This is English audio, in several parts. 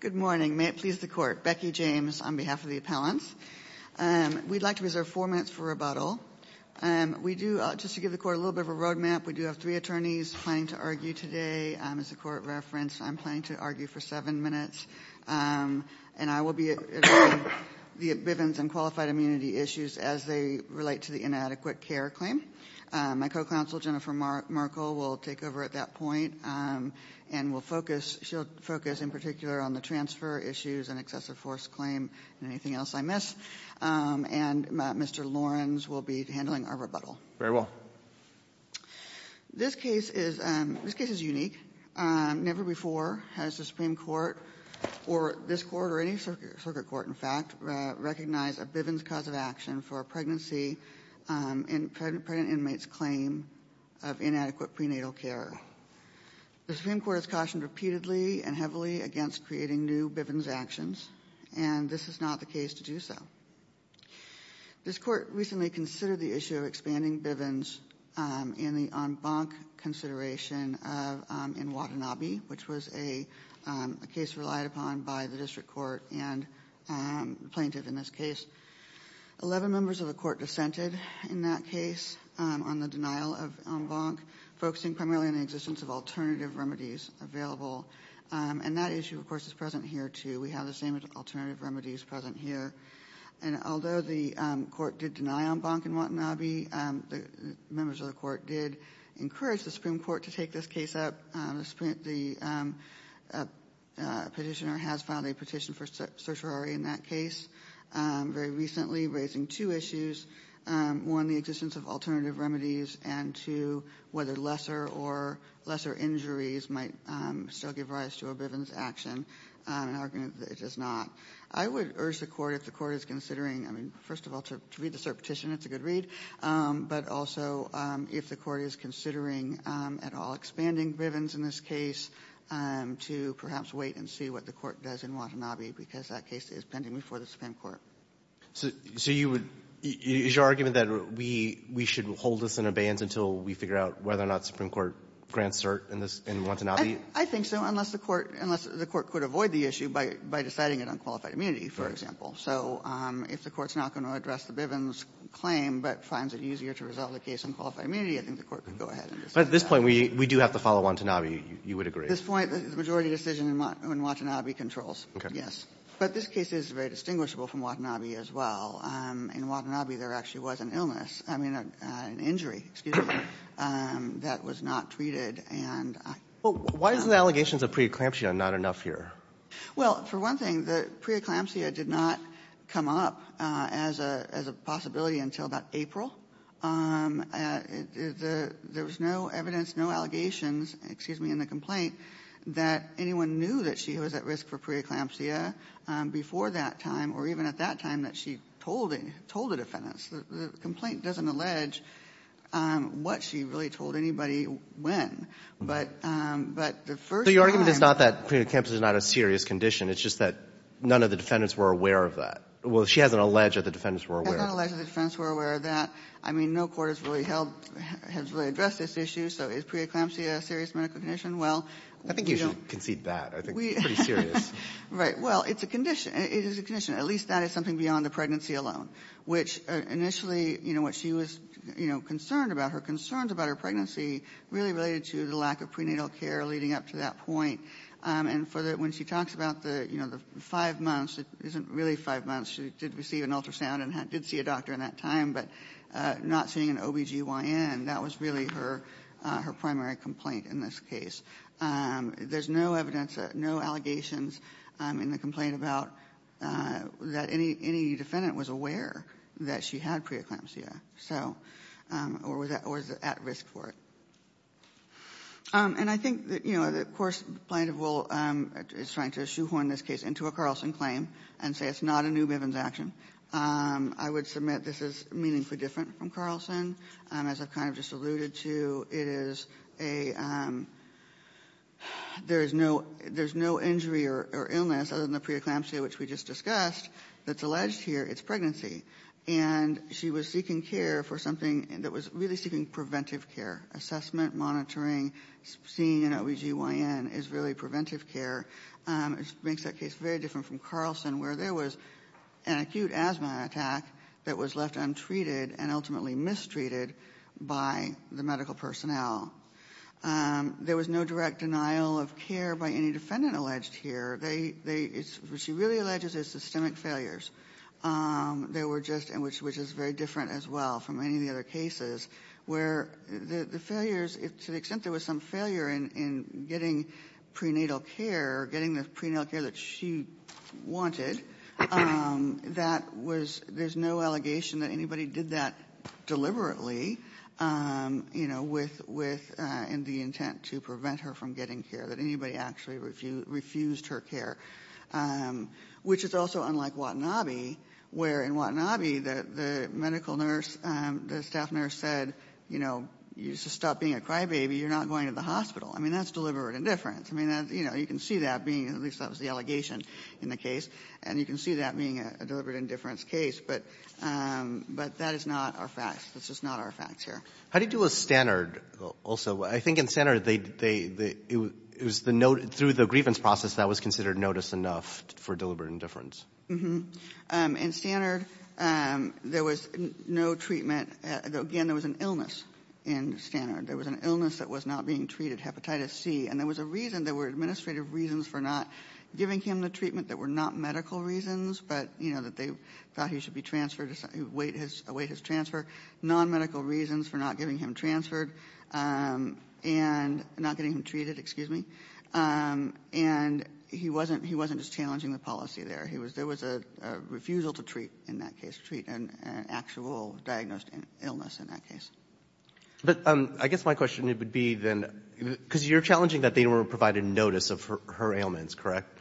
Good morning. May it please the court. Becky James on behalf of the appellants. We'd like to reserve four minutes for rebuttal. Just to give the court a little bit of a road map, we do have three attorneys planning to argue today. As the court referenced, I'm planning to argue for seven minutes. And I will be addressing the Bivens and qualified immunity issues as they relate to the inadequate care claim. My co-counsel, Jennifer Merkel, will take over at that point and will focus. She'll focus in particular on the transfer issues and excessive force claim and anything else I miss. And Mr. Lawrence will be handling our rebuttal. Very well. This case is unique. Never before has the Supreme Court or this court or any circuit court, in fact, recognized a Bivens cause of action for a pregnant inmate's claim of inadequate prenatal care. The Supreme Court has cautioned repeatedly and heavily against creating new Bivens actions. And this is not the case to do so. This court recently considered the issue of expanding Bivens in the en banc consideration in Watanabe, which was a case relied upon by the district court and the plaintiff in this case. Eleven members of the court dissented in that case on the denial of en banc, focusing primarily on the existence of alternative remedies available. And that issue, of course, is present here, too. We have the same alternative remedies present here. And although the court did deny en banc in Watanabe, the members of the court did encourage the Supreme Court to take this case up. The petitioner has filed a petition for certiorari in that case very recently, raising two issues. One, the existence of alternative remedies. And two, whether lesser or lesser injuries might still give rise to a Bivens action. An argument that it does not. I would urge the court, if the court is considering, I mean, first of all, to read the cert petition, it's a good read. But also, if the court is considering at all expanding Bivens in this case, to perhaps wait and see what the court does in Watanabe, because that case is pending before the Supreme Court. So you would – is your argument that we should hold this in abeyance until we figure out whether or not the Supreme Court grants cert in Watanabe? I think so, unless the court – unless the court could avoid the issue by deciding it on qualified immunity, for example. So if the court's not going to address the Bivens claim but finds it easier to resolve the case on qualified immunity, I think the court could go ahead and decide that. But at this point, we do have to follow Watanabe, you would agree? At this point, the majority decision in Watanabe controls, yes. Okay. But this case is very distinguishable from Watanabe as well. In Watanabe, there actually was an illness – I mean, an injury, excuse me – that was not treated, and I – Well, why is the allegations of preeclampsia not enough here? Well, for one thing, the preeclampsia did not come up as a – as a possibility until about April. There was no evidence, no allegations, excuse me, in the complaint that anyone knew that she was at risk for preeclampsia before that time or even at that time that she told the defendants. The complaint doesn't allege what she really told anybody when. But the first time – The preeclampsia is not a serious condition. It's just that none of the defendants were aware of that. Well, she hasn't alleged that the defendants were aware. She hasn't alleged that the defendants were aware of that. I mean, no court has really held – has really addressed this issue. So is preeclampsia a serious medical condition? Well, we don't – I think you should concede that. I think it's pretty serious. Right. Well, it's a condition. It is a condition. At least that is something beyond the pregnancy alone, which initially, you know, what she was, you know, concerned about, her concerns about her pregnancy really related to the lack of prenatal care leading up to that point. And for the – when she talks about the, you know, the five months, it isn't really five months. She did receive an ultrasound and did see a doctor in that time, but not seeing an OBGYN, that was really her primary complaint in this case. There's no evidence, no allegations in the complaint about that any defendant was aware that she had preeclampsia, so – or was at risk for it. And I think that, you know, of course Plaintiff will – is trying to shoehorn this case into a Carlson claim and say it's not a new Bivens action. I would submit this is meaningfully different from Carlson. As I've kind of just alluded to, it is a – there is no injury or illness, other than the preeclampsia, which we just discussed, that's alleged here. It's pregnancy. And she was seeking care for something that was really seeking preventive care. Assessment, monitoring, seeing an OBGYN is really preventive care. It makes that case very different from Carlson where there was an acute asthma attack that was left untreated and ultimately mistreated by the medical personnel. There was no direct denial of care by any defendant alleged here. What she really alleges is systemic failures. They were just – which is very different as well from any of the other cases where the failures – to the extent there was some failure in getting prenatal care, getting the prenatal care that she wanted, that was – there's no allegation that anybody did that deliberately, you know, with – in the intent to prevent her from getting care, that anybody actually refused her care, which is also unlike Watanabe where in Watanabe the medical nurse, the staff nurse said, you know, you should stop being a crybaby. You're not going to the hospital. I mean, that's deliberate indifference. I mean, you know, you can see that being – at least that was the allegation in the case. And you can see that being a deliberate indifference case. But that is not our facts. That's just not our facts here. How do you do a standard also? I think in standard they – it was the – through the grievance process that was considered notice enough for deliberate indifference. In standard there was no treatment – again, there was an illness in standard. There was an illness that was not being treated, hepatitis C. And there was a reason – there were administrative reasons for not giving him the treatment that were not medical reasons, but, you know, that they thought he should be transferred, await his transfer, non-medical reasons for not giving him transferred. And not getting him treated, excuse me. And he wasn't – he wasn't just challenging the policy there. He was – there was a refusal to treat in that case, treat an actual diagnosed illness in that case. But I guess my question would be then – because you're challenging that they were provided notice of her ailments, correct?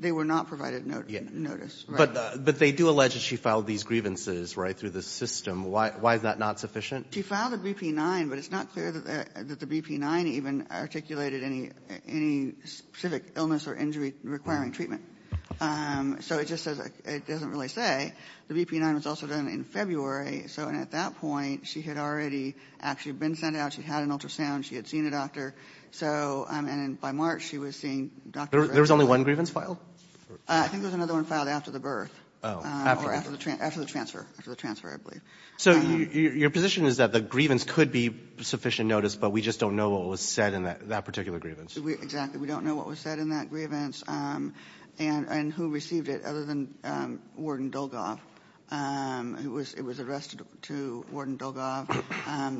They were not provided notice. But they do allege that she filed these grievances, right, through the system. Why is that not sufficient? She filed a BP-9, but it's not clear that the BP-9 even articulated any specific illness or injury requiring treatment. So it just says – it doesn't really say. The BP-9 was also done in February. So at that point, she had already actually been sent out. She had an ultrasound. She had seen a doctor. So, I mean, by March, she was seeing doctors. There was only one grievance filed? I think there was another one filed after the birth. Oh. After the transfer. After the transfer, I believe. So your position is that the grievance could be sufficient notice, but we just don't know what was said in that particular grievance? Exactly. We don't know what was said in that grievance and who received it other than Warden Dolgoff. It was addressed to Warden Dolgoff.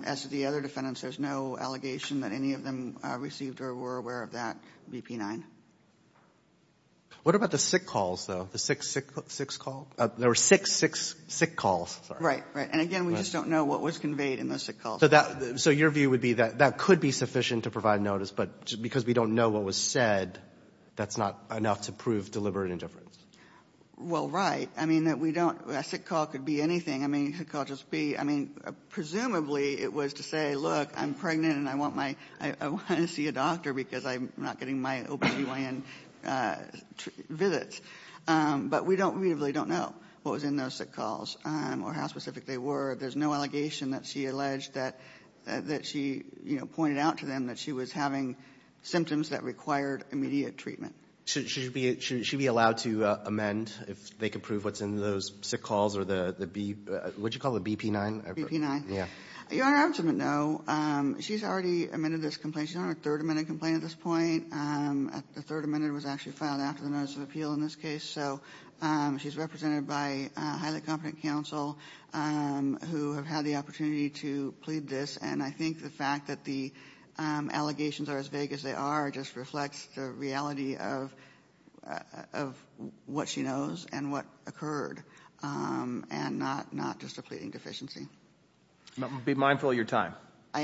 As to the other defendants, there's no allegation that any of them received or were aware of that BP-9. What about the sick calls, though? The sick call? There were six sick calls. Right. And, again, we just don't know what was conveyed in those sick calls. So your view would be that that could be sufficient to provide notice, but because we don't know what was said, that's not enough to prove deliberate indifference? Well, right. I mean, a sick call could be anything. I mean, presumably it was to say, look, I'm pregnant and I want to see a doctor because I'm not getting my OB-GYN visits. But we really don't know what was in those sick calls or how specific they were. There's no allegation that she alleged that she, you know, pointed out to them that she was having symptoms that required immediate treatment. Should she be allowed to amend, if they could prove what's in those sick calls or the BP-9? BP-9. Yeah. Your Honor, I have to admit, no. She's already amended this complaint. She's on her third amended complaint at this point. The third amendment was actually filed after the notice of appeal in this case. So she's represented by a highly competent counsel who have had the opportunity to plead this. And I think the fact that the allegations are as vague as they are just reflects the reality of what she knows and what occurred and not just a pleading deficiency. Be mindful of your time. I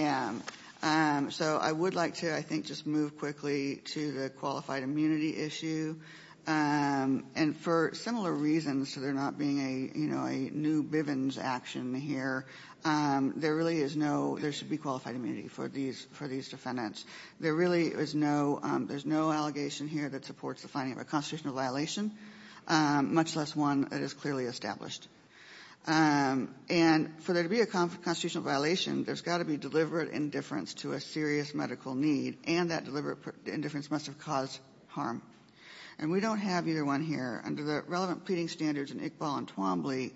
am. So I would like to, I think, just move quickly to the qualified immunity issue. And for similar reasons to there not being a, you know, a new Bivens action here, there really is no, there should be qualified immunity for these defendants. There really is no, there's no allegation here that supports the finding of a constitutional violation, much less one that is clearly established. And for there to be a constitutional violation, there's got to be deliberate indifference to a serious medical need, and that deliberate indifference must have caused harm. And we don't have either one here. Under the relevant pleading standards in Iqbal and Twombly,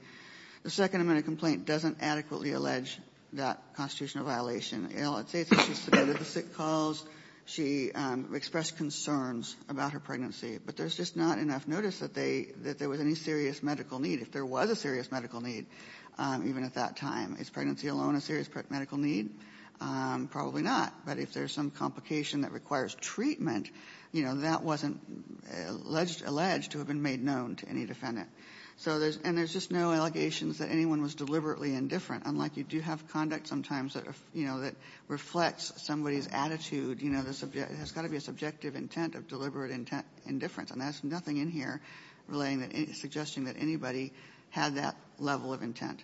the second amendment complaint doesn't adequately allege that constitutional violation. You know, let's say she submitted the sick calls. She expressed concerns about her pregnancy. But there's just not enough notice that there was any serious medical need. If there was a serious medical need, even at that time, is pregnancy alone a serious medical need? Probably not. But if there's some complication that requires treatment, you know, that wasn't alleged to have been made known to any defendant. So there's, and there's just no allegations that anyone was deliberately indifferent, unlike you do have conduct sometimes that, you know, that reflects somebody's attitude. You know, there's got to be a subjective intent of deliberate indifference. And there's nothing in here relaying that, suggesting that anybody had that level of intent.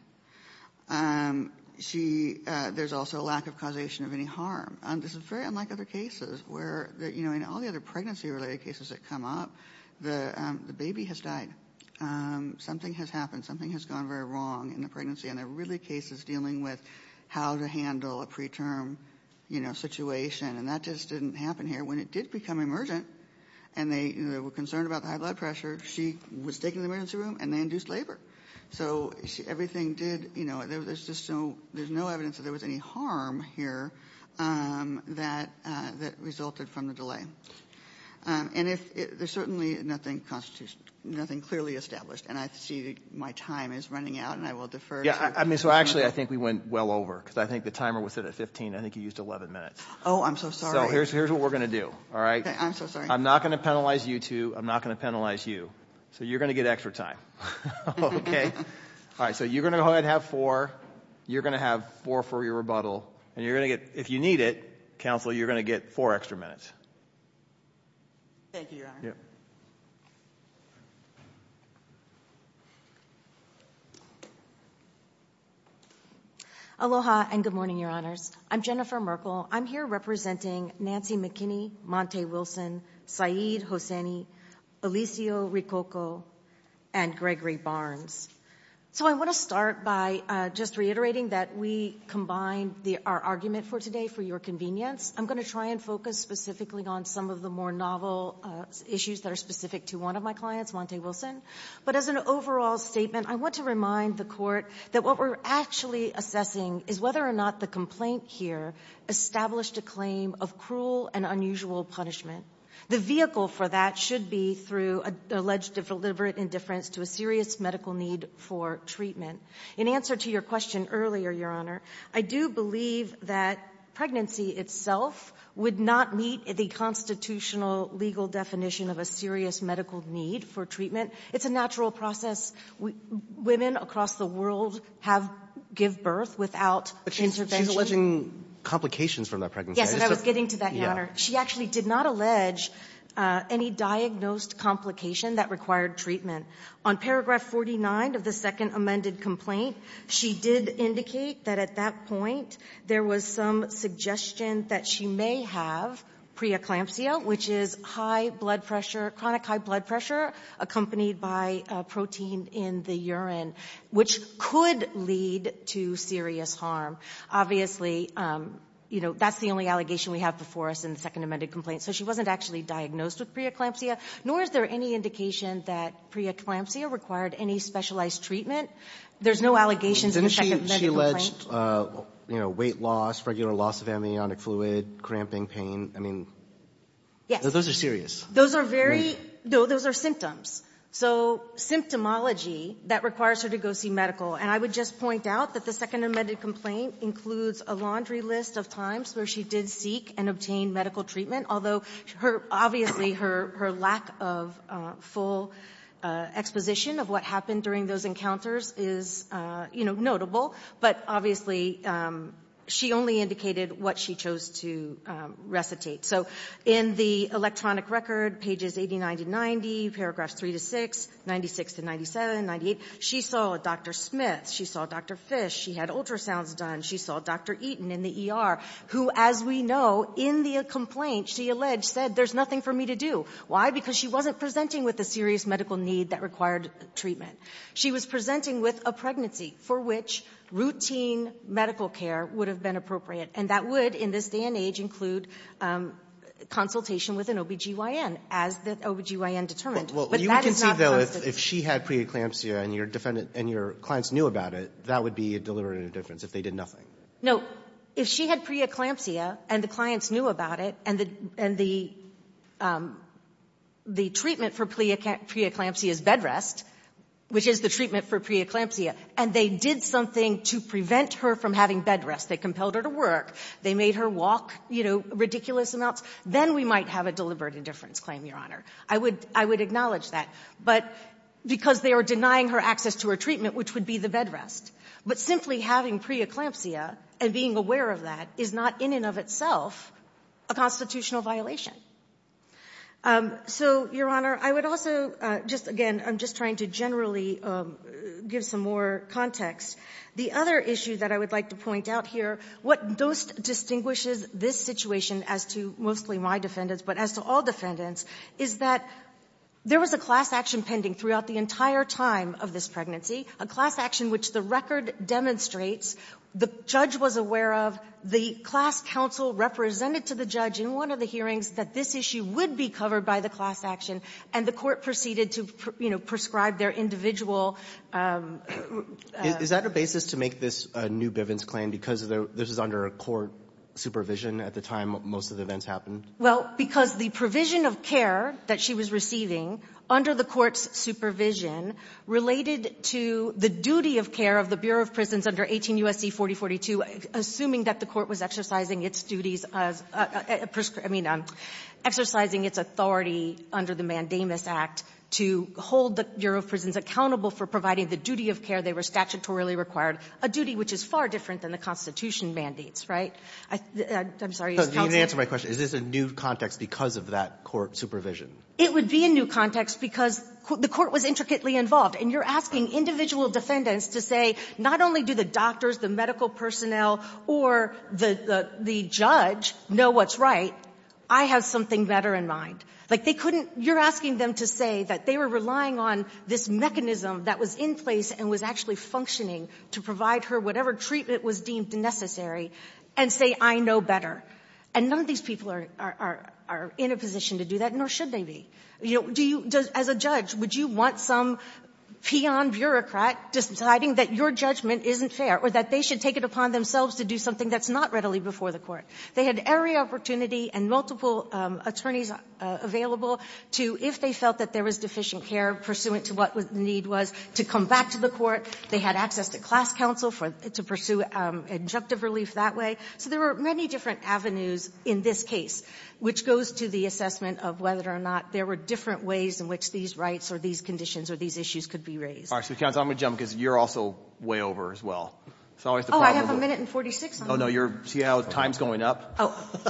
She, there's also a lack of causation of any harm. This is very unlike other cases where, you know, in all the other pregnancy-related cases that come up, the baby has died. Something has happened. Something has gone very wrong in the pregnancy. And they're really cases dealing with how to handle a preterm, you know, situation. And that just didn't happen here. When it did become emergent, and they were concerned about the high blood pressure, she was taken to the emergency room, and they induced labor. So everything did, you know, there's just no, there's no evidence that there was any harm here that resulted from the delay. And if, there's certainly nothing clearly established. And I see my time is running out, and I will defer. Yeah, I mean, so actually I think we went well over. Because I think the timer was set at 15. I think you used 11 minutes. Oh, I'm so sorry. So here's what we're going to do. I'm so sorry. I'm not going to penalize you two. I'm not going to penalize you. So you're going to get extra time. Okay? All right. So you're going to go ahead and have four. You're going to have four for your rebuttal. And you're going to get, if you need it, counsel, you're going to get four extra minutes. Thank you, Your Honor. Yeah. Aloha, and good morning, Your Honors. I'm Jennifer Merkel. I'm here representing Nancy McKinney, Monte Wilson, Saeed Hosseini, Alicio Ricocco, and Gregory Barnes. So I want to start by just reiterating that we combined our argument for today for your convenience. I'm going to try and focus specifically on some of the more novel issues that are specific to one of my clients, Monte Wilson. But as an overall statement, I want to remind the Court that what we're actually assessing is whether or not the complaint here established a claim of cruel and unusual punishment. The vehicle for that should be through alleged deliberate indifference to a serious medical need for treatment. In answer to your question earlier, Your Honor, I do believe that pregnancy itself would not meet the constitutional legal definition of a serious medical need for treatment. It's a natural process. Women across the world have give birth without intervention. But she's alleging complications from that pregnancy. Yes, and I was getting to that, Your Honor. She actually did not allege any diagnosed complication that required treatment. On paragraph 49 of the second amended complaint, she did indicate that at that point there was some suggestion that she may have preeclampsia, which is high blood pressure, chronic high blood pressure accompanied by protein in the urine, which could lead to serious harm. Obviously, you know, that's the only allegation we have before us in the second amended complaint. So she wasn't actually diagnosed with preeclampsia, nor is there any indication that preeclampsia required any specialized treatment. There's no allegations in the second amended complaint. Didn't she allege weight loss, regular loss of amniotic fluid, cramping, pain? I mean, those are serious. Those are symptoms, so symptomology that requires her to go see medical. And I would just point out that the second amended complaint includes a laundry list of times where she did seek and obtain medical treatment, although obviously her lack of full exposition of what happened during those encounters is notable, but obviously she only indicated what she chose to recitate. So in the electronic record, pages 80, 90, 90, paragraphs 3 to 6, 96 to 97, 98, she saw Dr. Smith. She saw Dr. Fish. She had ultrasounds done. She saw Dr. Eaton in the ER, who, as we know, in the complaint, she alleged, said, there's nothing for me to do. Why? Because she wasn't presenting with a serious medical need that required treatment. She was presenting with a pregnancy for which routine medical care would have been appropriate, and that would, in this day and age, include consultation with an OB-GYN, as the OB-GYN determined. But that is not constant. Well, you would concede, though, if she had preeclampsia and your clients knew about it, that would be a deliberative difference if they did nothing. No. If she had preeclampsia and the clients knew about it and the treatment for preeclampsia is bed rest, which is the treatment for preeclampsia, and they did something to prevent her from having bed rest, they compelled her to work, they made her walk, you know, ridiculous amounts, then we might have a deliberate indifference claim, Your Honor. I would acknowledge that. But because they are denying her access to her treatment, which would be the bed rest. But simply having preeclampsia and being aware of that is not in and of itself a constitutional violation. So, Your Honor, I would also just, again, I'm just trying to generally give some more context. The other issue that I would like to point out here, what distinguishes this situation as to mostly my defendants, but as to all defendants, is that there was a class action pending throughout the entire time of this pregnancy, a class action which the record demonstrates the judge was aware of, the class counsel represented to the judge in one of the hearings that this issue would be covered by the class action, and the Court proceeded to, you know, prescribe their individual Is that a basis to make this a new Bivens claim because this is under a court supervision at the time most of the events happened? Well, because the provision of care that she was receiving under the court's supervision related to the duty of care of the Bureau of Prisons under 18 U.S.C. 4042, assuming that the court was exercising its duties, I mean, exercising its authority under the Mandamus Act to hold the Bureau of Prisons accountable for providing the duty of care they were statutorily required, a duty which is far different than the Constitution mandates, right? I'm sorry. You didn't answer my question. Is this a new context because of that court supervision? It would be a new context because the court was intricately involved, and you're asking individual defendants to say not only do the doctors, the medical personnel or the judge know what's right, I have something better in mind. Like, they couldn't you're asking them to say that they were relying on this mechanism that was in place and was actually functioning to provide her whatever treatment was deemed necessary and say, I know better. And none of these people are in a position to do that, nor should they be. Do you, as a judge, would you want some peon bureaucrat deciding that your judgment isn't fair or that they should take it upon themselves to do something that's not readily before the court? They had every opportunity and multiple attorneys available to, if they felt that there was deficient care pursuant to what the need was, to come back to the court. They had access to class counsel to pursue injunctive relief that way. So there were many different avenues in this case which goes to the assessment of whether or not there were different ways in which these rights or these conditions or these issues could be raised. All right, so counsel, I'm going to jump because you're also way over as well. Oh, I have a minute and 46 on me. Oh, no, see how time's going up?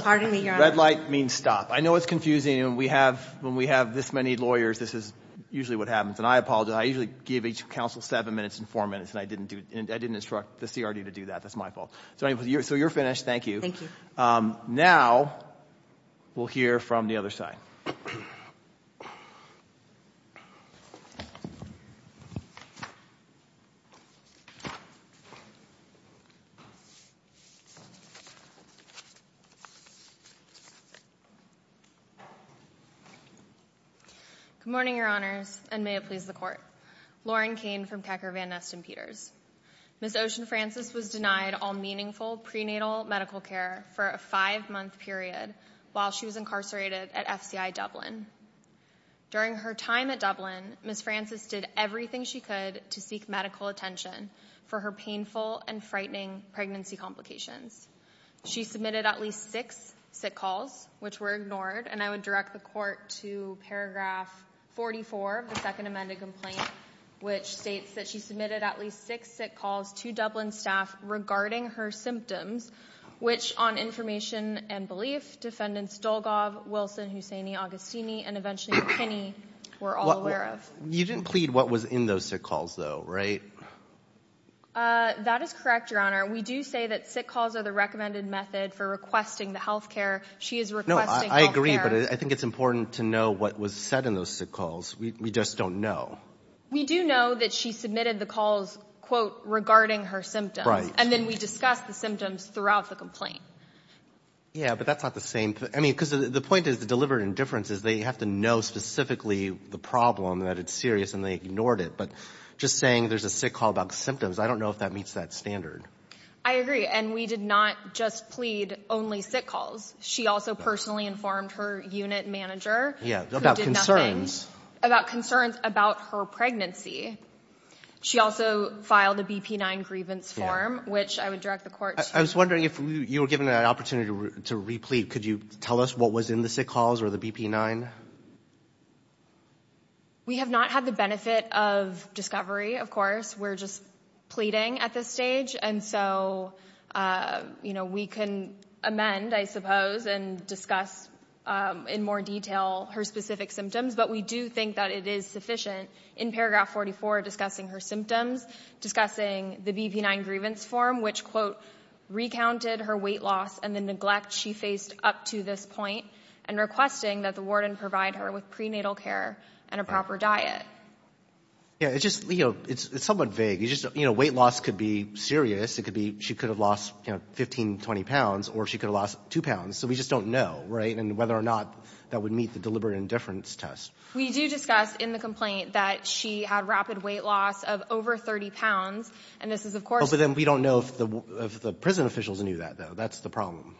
Pardon me. Red light means stop. I know it's confusing. When we have this many lawyers, this is usually what happens. And I apologize. I usually give each counsel seven minutes and four minutes, and I didn't instruct the CRD to do that. That's my fault. So you're finished. Thank you. Thank you. Now, we'll hear from the other side. Good morning, Your Honors, and may it please the Court. Lauren Cain from Kekker, Van Ness, and Peters. Ms. Ocean Francis was denied all meaningful prenatal medical care for a five-month period while she was incarcerated at FCI Dublin. During her time at Dublin, Ms. Francis did everything she could to seek medical attention for her painful and frightening pregnancy complications. She submitted at least six sick calls, which were ignored, and I would direct the Court to paragraph 44 of the Second Amended Complaint, which states that she submitted at least six sick calls to Dublin staff regarding her symptoms, which, on information and belief, defendants Dolgov, Wilson, Hussaini, Agostini, and eventually McKinney were all aware of. You didn't plead what was in those sick calls, though, right? That is correct, Your Honor. We do say that sick calls are the recommended method for requesting the health care. She is requesting health care. No, I agree, but I think it's important to know what was said in those sick calls. We just don't know. We do know that she submitted the calls, quote, regarding her symptoms. Right. And then we discuss the symptoms throughout the complaint. Yeah, but that's not the same. I mean, because the point is the deliberate indifference is they have to know specifically the problem, that it's serious, and they ignored it. But just saying there's a sick call about symptoms, I don't know if that meets that standard. I agree, and we did not just plead only sick calls. She also personally informed her unit manager, who did nothing. About concerns about her pregnancy. She also filed a BP-9 grievance form, which I would direct the court to. I was wondering if you were given an opportunity to replete. Could you tell us what was in the sick calls or the BP-9? We have not had the benefit of discovery, of course. We're just pleading at this stage, and so, you know, we can amend, I suppose, and discuss in more detail her specific symptoms, but we do think that it is important to discuss her symptoms, discussing the BP-9 grievance form, which recounted her weight loss and the neglect she faced up to this point, and requesting that the warden provide her with prenatal care and a proper diet. Yeah, it's just, you know, it's somewhat vague. You know, weight loss could be serious. It could be she could have lost, you know, 15, 20 pounds, or she could have lost two pounds, so we just don't know, right, and whether or not that would meet the deliberate indifference test. We do discuss in the complaint that she had rapid weight loss of over 30 pounds, and this is, of course the case. But then we don't know if the prison officials knew that, though. That's the problem.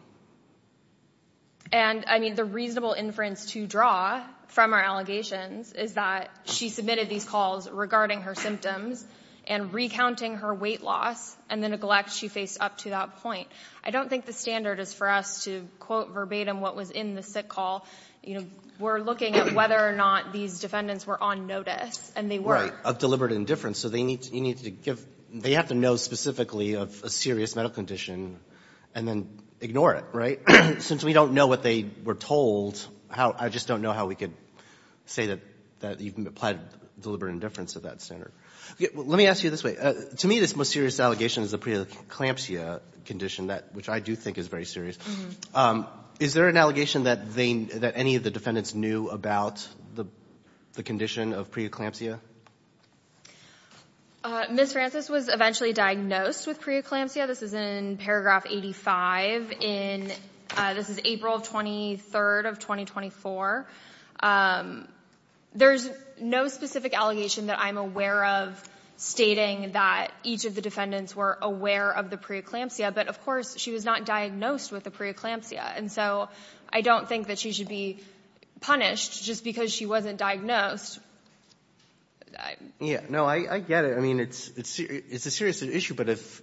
And, I mean, the reasonable inference to draw from our allegations is that she submitted these calls regarding her symptoms and recounting her weight loss and the neglect she faced up to that point. I don't think the standard is for us to quote verbatim what was in the sick call. You know, we're looking at whether or not these defendants were on notice, and they were. Of deliberate indifference. So they need to give they have to know specifically of a serious medical condition and then ignore it, right? Since we don't know what they were told, I just don't know how we could say that you can apply deliberate indifference to that standard. Let me ask you this way. To me, this most serious allegation is the preeclampsia condition, which I do think is very serious. Is there an allegation that they, that any of the defendants knew about the condition of preeclampsia? Ms. Francis was eventually diagnosed with preeclampsia. This is in paragraph 85 in, this is April 23rd of 2024. There's no specific allegation that I'm aware of stating that each of the defendants were aware of the preeclampsia, but of course she was not diagnosed with the preeclampsia. And so I don't think that she should be punished just because she wasn't diagnosed. No, I get it. I mean, it's a serious issue. But if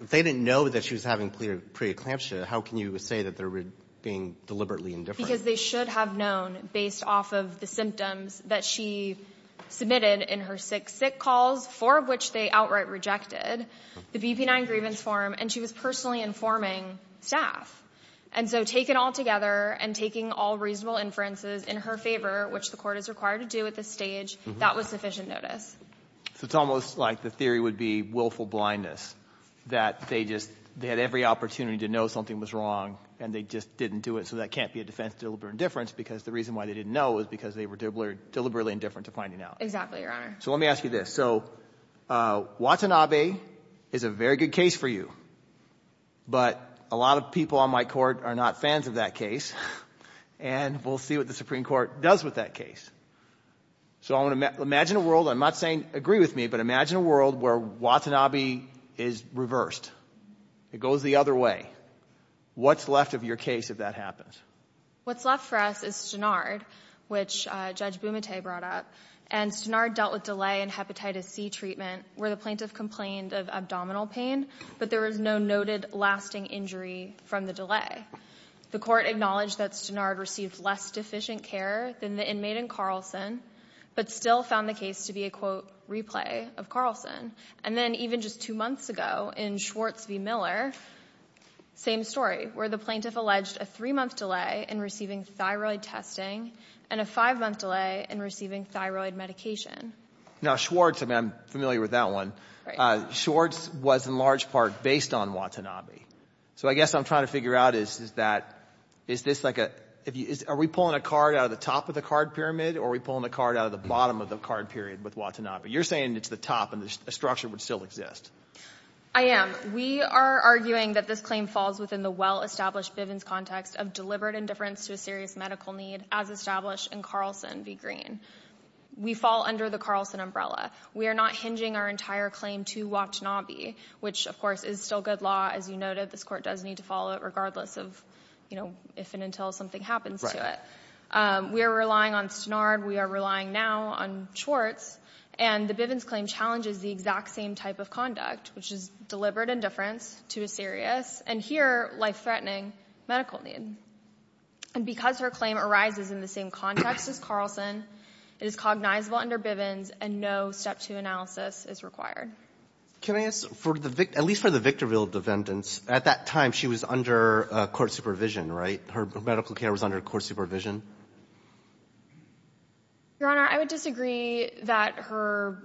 they didn't know that she was having preeclampsia, how can you say that they were being deliberately indifferent? Because they should have known based off of the symptoms that she submitted in her case. I mean, she submitted six sick calls, four of which they outright rejected the BP-9 grievance form, and she was personally informing staff. And so taken all together and taking all reasonable inferences in her favor, which the Court is required to do at this stage, that was sufficient notice. So it's almost like the theory would be willful blindness, that they just, they had every opportunity to know something was wrong and they just didn't do it, so that can't be a defense of deliberate indifference because the reason why they didn't know is because they were deliberately indifferent to finding out. Exactly, Your Honor. So let me ask you this. So Watanabe is a very good case for you, but a lot of people on my court are not fans of that case, and we'll see what the Supreme Court does with that case. So imagine a world, I'm not saying agree with me, but imagine a world where Watanabe is reversed. It goes the other way. What's left of your case if that happens? What's left for us is Stenard, which Judge Bumate brought up. And Stenard dealt with delay in hepatitis C treatment where the plaintiff complained of abdominal pain, but there was no noted lasting injury from the delay. The Court acknowledged that Stenard received less deficient care than the inmate in Carlson, but still found the case to be a, quote, replay of Carlson. And then even just two months ago in Schwartz v. Miller, same story, where the thyroid testing and a five-month delay in receiving thyroid medication. Now, Schwartz, I mean, I'm familiar with that one. Schwartz was in large part based on Watanabe. So I guess what I'm trying to figure out is that is this like a, are we pulling a card out of the top of the card pyramid, or are we pulling a card out of the bottom of the card period with Watanabe? You're saying it's the top and the structure would still exist. I am. We are arguing that this claim falls within the well-established Bivens context of deliberate indifference to a serious medical need as established in Carlson v. Green. We fall under the Carlson umbrella. We are not hinging our entire claim to Watanabe, which, of course, is still good law, as you noted. This Court does need to follow it regardless of, you know, if and until something happens to it. We are relying on Stenard. We are relying now on Schwartz. And the Bivens claim challenges the exact same type of conduct, which is deliberate indifference to a serious, and here life-threatening, medical need. And because her claim arises in the same context as Carlson, it is cognizable under Bivens, and no Step 2 analysis is required. Can I ask, at least for the Victorville defendants, at that time she was under court supervision, right? Her medical care was under court supervision? Your Honor, I would disagree that her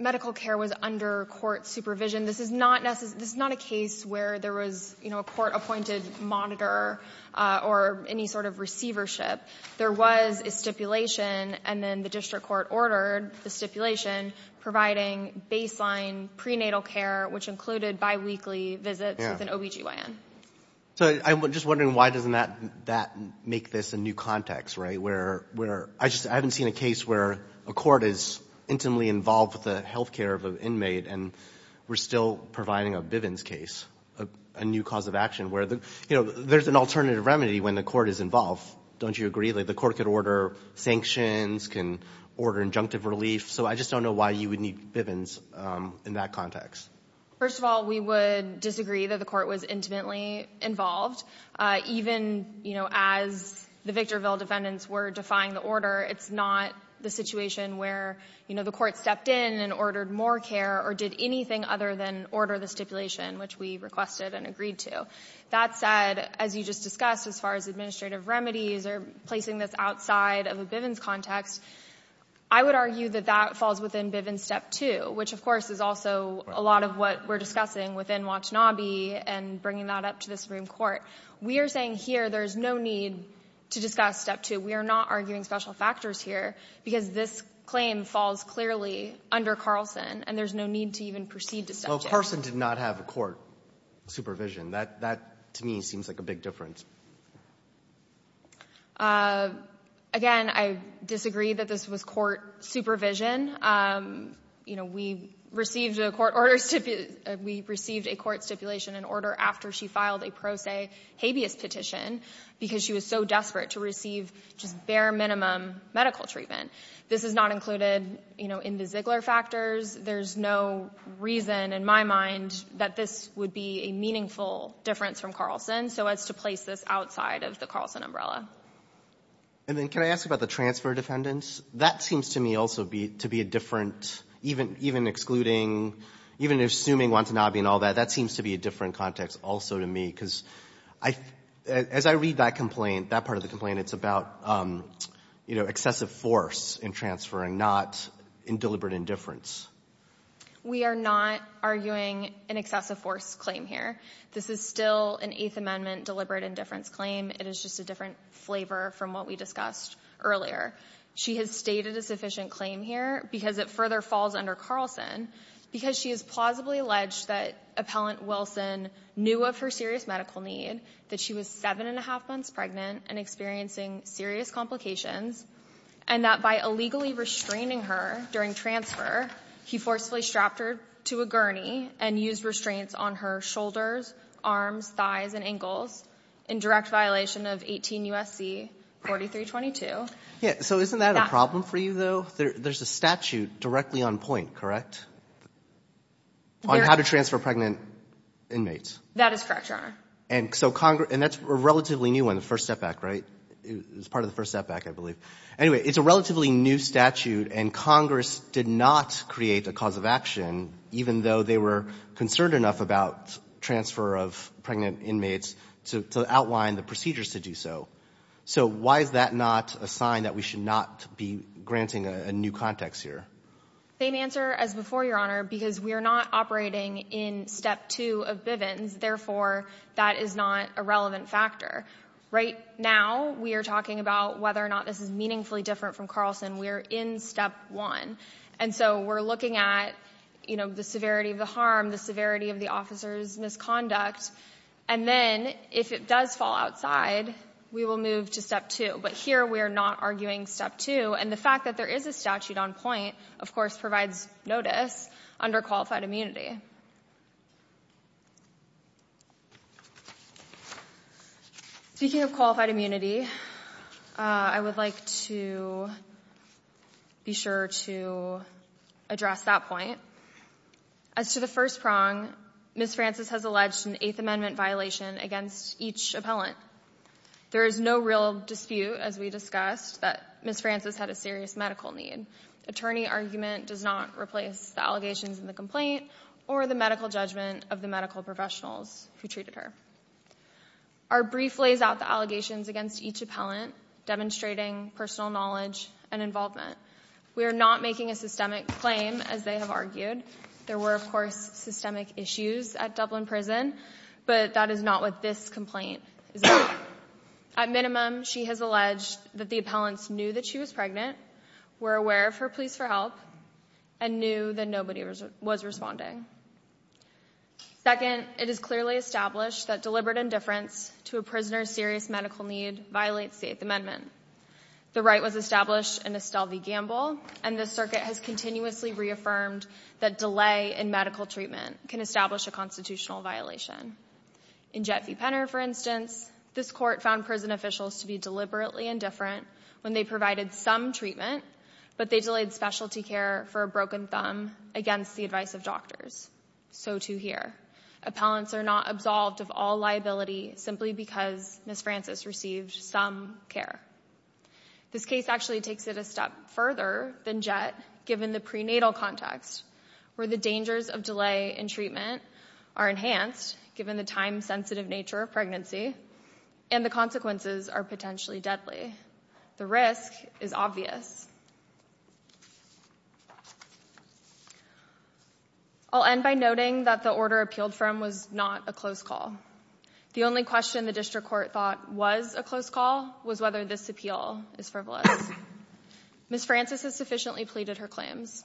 medical care was under court supervision. This is not a case where there was, you know, a court-appointed monitor or any sort of receivership. There was a stipulation, and then the district court ordered the stipulation providing baseline prenatal care, which included biweekly visits with an OB-GYN. So I'm just wondering why doesn't that make this a new context, right? Where I haven't seen a case where a court is intimately involved with the health care of an inmate, and we're still providing a Bivens case, a new cause of action, where, you know, there's an alternative remedy when the court is involved. Don't you agree? Like the court could order sanctions, can order injunctive relief. So I just don't know why you would need Bivens in that context. First of all, we would disagree that the court was intimately involved. Even, you know, as the Victorville defendants were defying the order, it's not the situation where, you know, the court stepped in and ordered more care or did anything other than order the stipulation, which we requested and agreed to. That said, as you just discussed, as far as administrative remedies or placing this outside of a Bivens context, I would argue that that falls within Bivens Step 2, which, of course, is also a lot of what we're discussing within Watanabe and bringing that up to the Supreme Court. We are saying here there's no need to discuss Step 2. We are not arguing special factors here because this claim falls clearly under Carlson, and there's no need to even proceed to Step 2. Well, Carlson did not have a court supervision. That to me seems like a big difference. Again, I disagree that this was court supervision. You know, we received a court order to be — we received a court stipulation and order after she filed a pro se habeas petition because she was so desperate to receive just bare minimum medical treatment. This is not included, you know, in the Ziegler factors. There's no reason in my mind that this would be a meaningful difference from Carlson so as to place this outside of the Carlson umbrella. And then can I ask about the transfer defendants? That seems to me also to be a different — even excluding — even assuming Watanabe and all that, that seems to be a different context also to me because I — as I read that complaint, that part of the complaint, it's about, you know, excessive force in transferring, not in deliberate indifference. We are not arguing an excessive force claim here. This is still an Eighth Amendment deliberate indifference claim. It is just a different flavor from what we discussed earlier. She has stated a sufficient claim here because it further falls under Carlson because she has plausibly alleged that Appellant Wilson knew of her serious medical need, that she was 7-1⁄2 months pregnant and experiencing serious complications, and that by illegally restraining her during transfer, he forcefully strapped her to a gurney and used restraints on her shoulders, arms, thighs, and ankles in direct violation of 18 U.S.C. 4322. So isn't that a problem for you, though? There's a statute directly on point, correct, on how to transfer pregnant inmates. That is correct, Your Honor. And so Congress — and that's a relatively new one, the First Step Act, right? It was part of the First Step Act, I believe. Anyway, it's a relatively new statute, and Congress did not create a cause of action, even though they were concerned enough about transfer of pregnant inmates to outline the procedures to do so. So why is that not a sign that we should not be granting a new context here? Same answer as before, Your Honor, because we are not operating in Step 2 of Bivens. Therefore, that is not a relevant factor. Right now, we are talking about whether or not this is meaningfully different from Carlson. We are in Step 1. And so we're looking at, you know, the severity of the harm, the severity of the officer's misconduct. And then, if it does fall outside, we will move to Step 2. But here, we are not arguing Step 2. And the fact that there is a statute on point, of course, provides notice under qualified immunity. Speaking of qualified immunity, I would like to be sure to address that point. As to the first prong, Ms. Francis has alleged an Eighth Amendment violation against each appellant. There is no real dispute, as we discussed, that Ms. Francis had a serious medical need. The attorney argument does not replace the allegations in the complaint or the medical judgment of the medical professionals who treated her. Our brief lays out the allegations against each appellant, demonstrating personal knowledge and involvement. We are not making a systemic claim, as they have argued. There were, of course, systemic issues at Dublin Prison, but that is not what this complaint is about. At minimum, she has alleged that the appellants knew that she was pregnant, were aware of her pleas for help, and knew that nobody was responding. Second, it is clearly established that deliberate indifference to a prisoner's serious medical need violates the Eighth Amendment. The right was established in Estelle v. Gamble, and the circuit has continuously reaffirmed that delay in medical treatment can establish a constitutional violation. In Jet v. Penner, for instance, this court found prison officials to be deliberately indifferent when they provided some treatment, but they delayed specialty care for a broken thumb against the advice of doctors. So, too, here. Appellants are not absolved of all liability simply because Ms. Francis received some care. This case actually takes it a step further than Jet, given the prenatal context, where the dangers of delay in treatment are enhanced, given the time-sensitive nature of pregnancy, and the consequences are potentially deadly. The risk is obvious. I'll end by noting that the order appealed from was not a close call. The only question the district court thought was a close call was whether this appeal is frivolous. Ms. Francis has sufficiently pleaded her claims.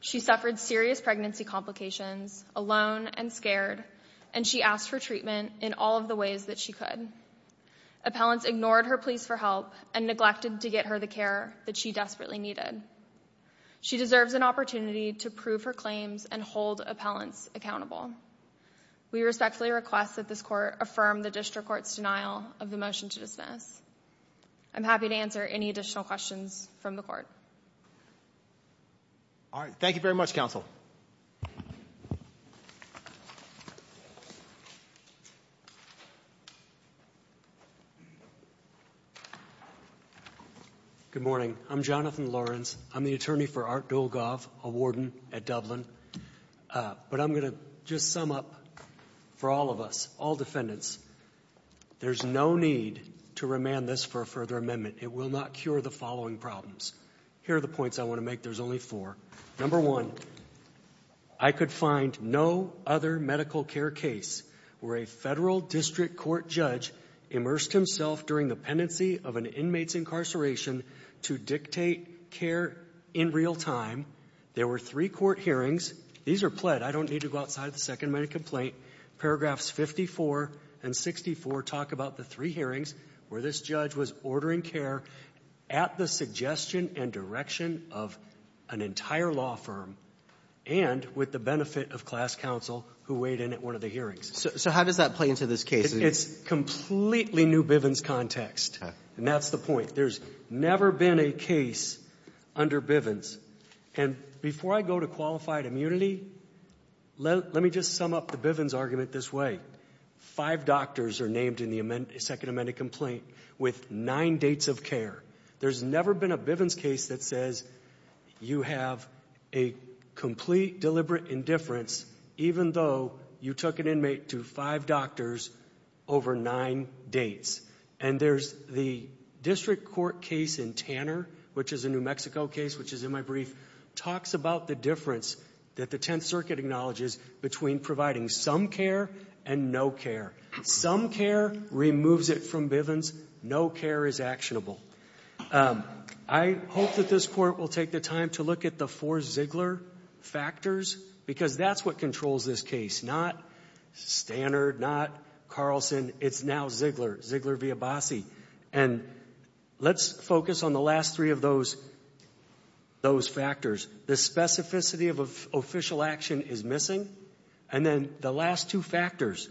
She suffered serious pregnancy complications, alone and scared, and she asked for treatment in all of the ways that she could. Appellants ignored her pleas for help and neglected to get her the care that she desperately needed. She deserves an opportunity to prove her claims and hold appellants accountable. We respectfully request that this court affirm the district court's denial of the motion to dismiss. I'm happy to answer any additional questions from the court. All right. Thank you very much, counsel. Good morning. I'm Jonathan Lawrence. I'm the attorney for Art Dolgov, a warden at Dublin. But I'm going to just sum up for all of us, all defendants, there's no need to remand this for a further amendment. It will not cure the following problems. Here are the points I want to make. There's only four. Number one, I could find no other medical care case where a federal district court judge immersed himself during the pendency of an inmate's incarceration to dictate care in real time. There were three court hearings. These are pled. I don't need to go outside the second minute complaint. Paragraphs 54 and 64 talk about the three hearings where this judge was ordering care at the suggestion and direction of an entire law firm and with the benefit of class counsel who weighed in at one of the hearings. So how does that play into this case? It's completely new Bivens context. Okay. And that's the point. There's never been a case under Bivens. And before I go to qualified immunity, let me just sum up the Bivens argument this way. Five doctors are named in the second amended complaint with nine dates of care. There's never been a Bivens case that says you have a complete deliberate indifference even though you took an inmate to five doctors over nine dates. And there's the district court case in Tanner, which is a New Mexico case, which is in my brief, talks about the difference that the Tenth Circuit acknowledges between providing some care and no care. Some care removes it from Bivens. No care is actionable. I hope that this Court will take the time to look at the four Ziegler factors because that's what controls this case, not Stannard, not Carlson. It's now Ziegler, Ziegler v. Abbasi. And let's focus on the last three of those factors. The specificity of official action is missing. And then the last two factors,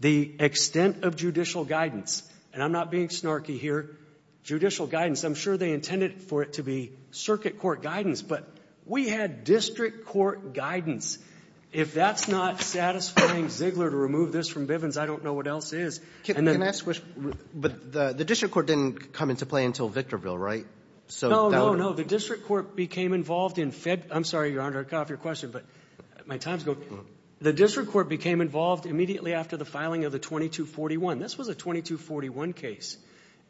the extent of judicial guidance, and I'm not being snarky here, judicial guidance. I'm sure they intended for it to be circuit court guidance, but we had district court guidance. If that's not satisfying Ziegler to remove this from Bivens, I don't know what else is. And then the district court didn't come into play until Victorville, right? No, no, no. The district court became involved in Feb — I'm sorry, Your Honor, I can't offer your question, but my time is going. The district court became involved immediately after the filing of the 2241. This was a 2241 case.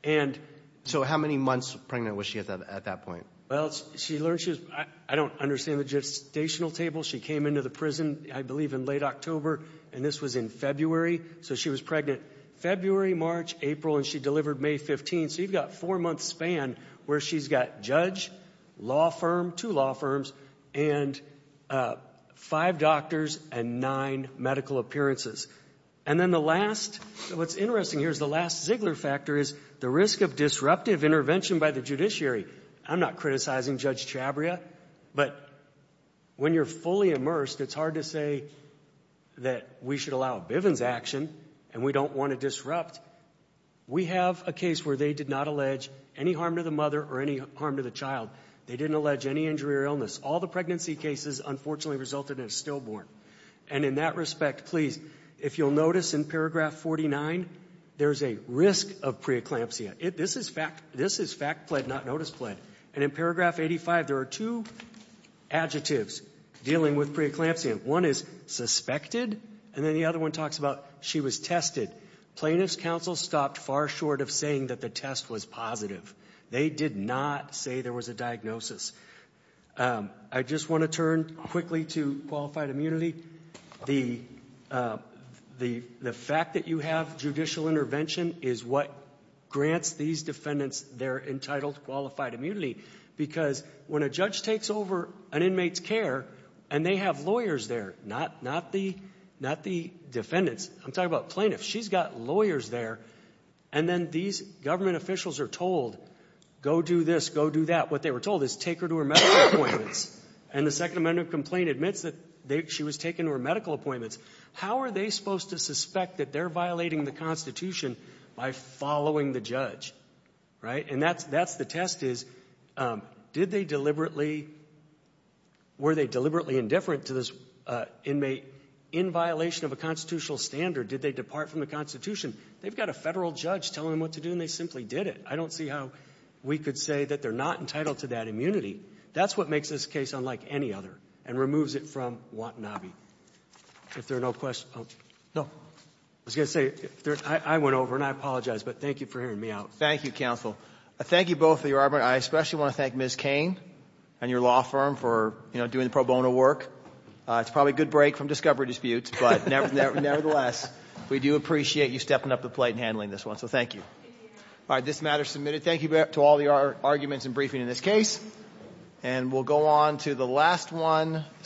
And — So how many months pregnant was she at that point? Well, she learned she was — I don't understand the gestational table. She came into the prison, I believe, in late October, and this was in February. So she was pregnant February, March, April, and she delivered May 15th. So you've got a four-month span where she's got judge, law firm, two law firms, and five doctors and nine medical appearances. And then the last — what's interesting here is the last Ziegler factor is the risk of disruptive intervention by the judiciary. I'm not criticizing Judge Chabria, but when you're fully immersed, it's hard to say that we should allow a Bivens action and we don't want to disrupt. We have a case where they did not allege any harm to the mother or any harm to the They didn't allege any injury or illness. All the pregnancy cases, unfortunately, resulted in a stillborn. And in that respect, please, if you'll notice in paragraph 49, there's a risk of preeclampsia. This is fact-pled, not notice-pled. And in paragraph 85, there are two adjectives dealing with preeclampsia. One is suspected, and then the other one talks about she was tested. Plaintiffs' counsel stopped far short of saying that the test was positive. They did not say there was a diagnosis. I just want to turn quickly to qualified immunity. The fact that you have judicial intervention is what grants these defendants their entitled qualified immunity, because when a judge takes over an inmate's care and they have lawyers there, not the defendants. I'm talking about plaintiffs. She's got lawyers there, and then these government officials are told, go do this, go do that. What they were told is take her to her medical appointments. And the Second Amendment complaint admits that she was taken to her medical appointments. How are they supposed to suspect that they're violating the Constitution by following the judge? Right? And that's the test is, did they deliberately, were they deliberately indifferent to this inmate in violation of a constitutional standard? Did they depart from the Constitution? They've got a federal judge telling them what to do, and they simply did it. I don't see how we could say that they're not entitled to that immunity. That's what makes this case unlike any other and removes it from Watanabe. If there are no questions. No. I was going to say, I went over, and I apologize, but thank you for hearing me out. Thank you, counsel. Thank you both, Your Honor. I especially want to thank Ms. Cain and your law firm for, you know, doing the pro bono work. It's probably a good break from discovery disputes, but nevertheless, we do appreciate you stepping up to the plate and handling this one. So thank you. All right. This matter is submitted. Thank you to all the arguments and briefing in this case. And we'll go on to the last one.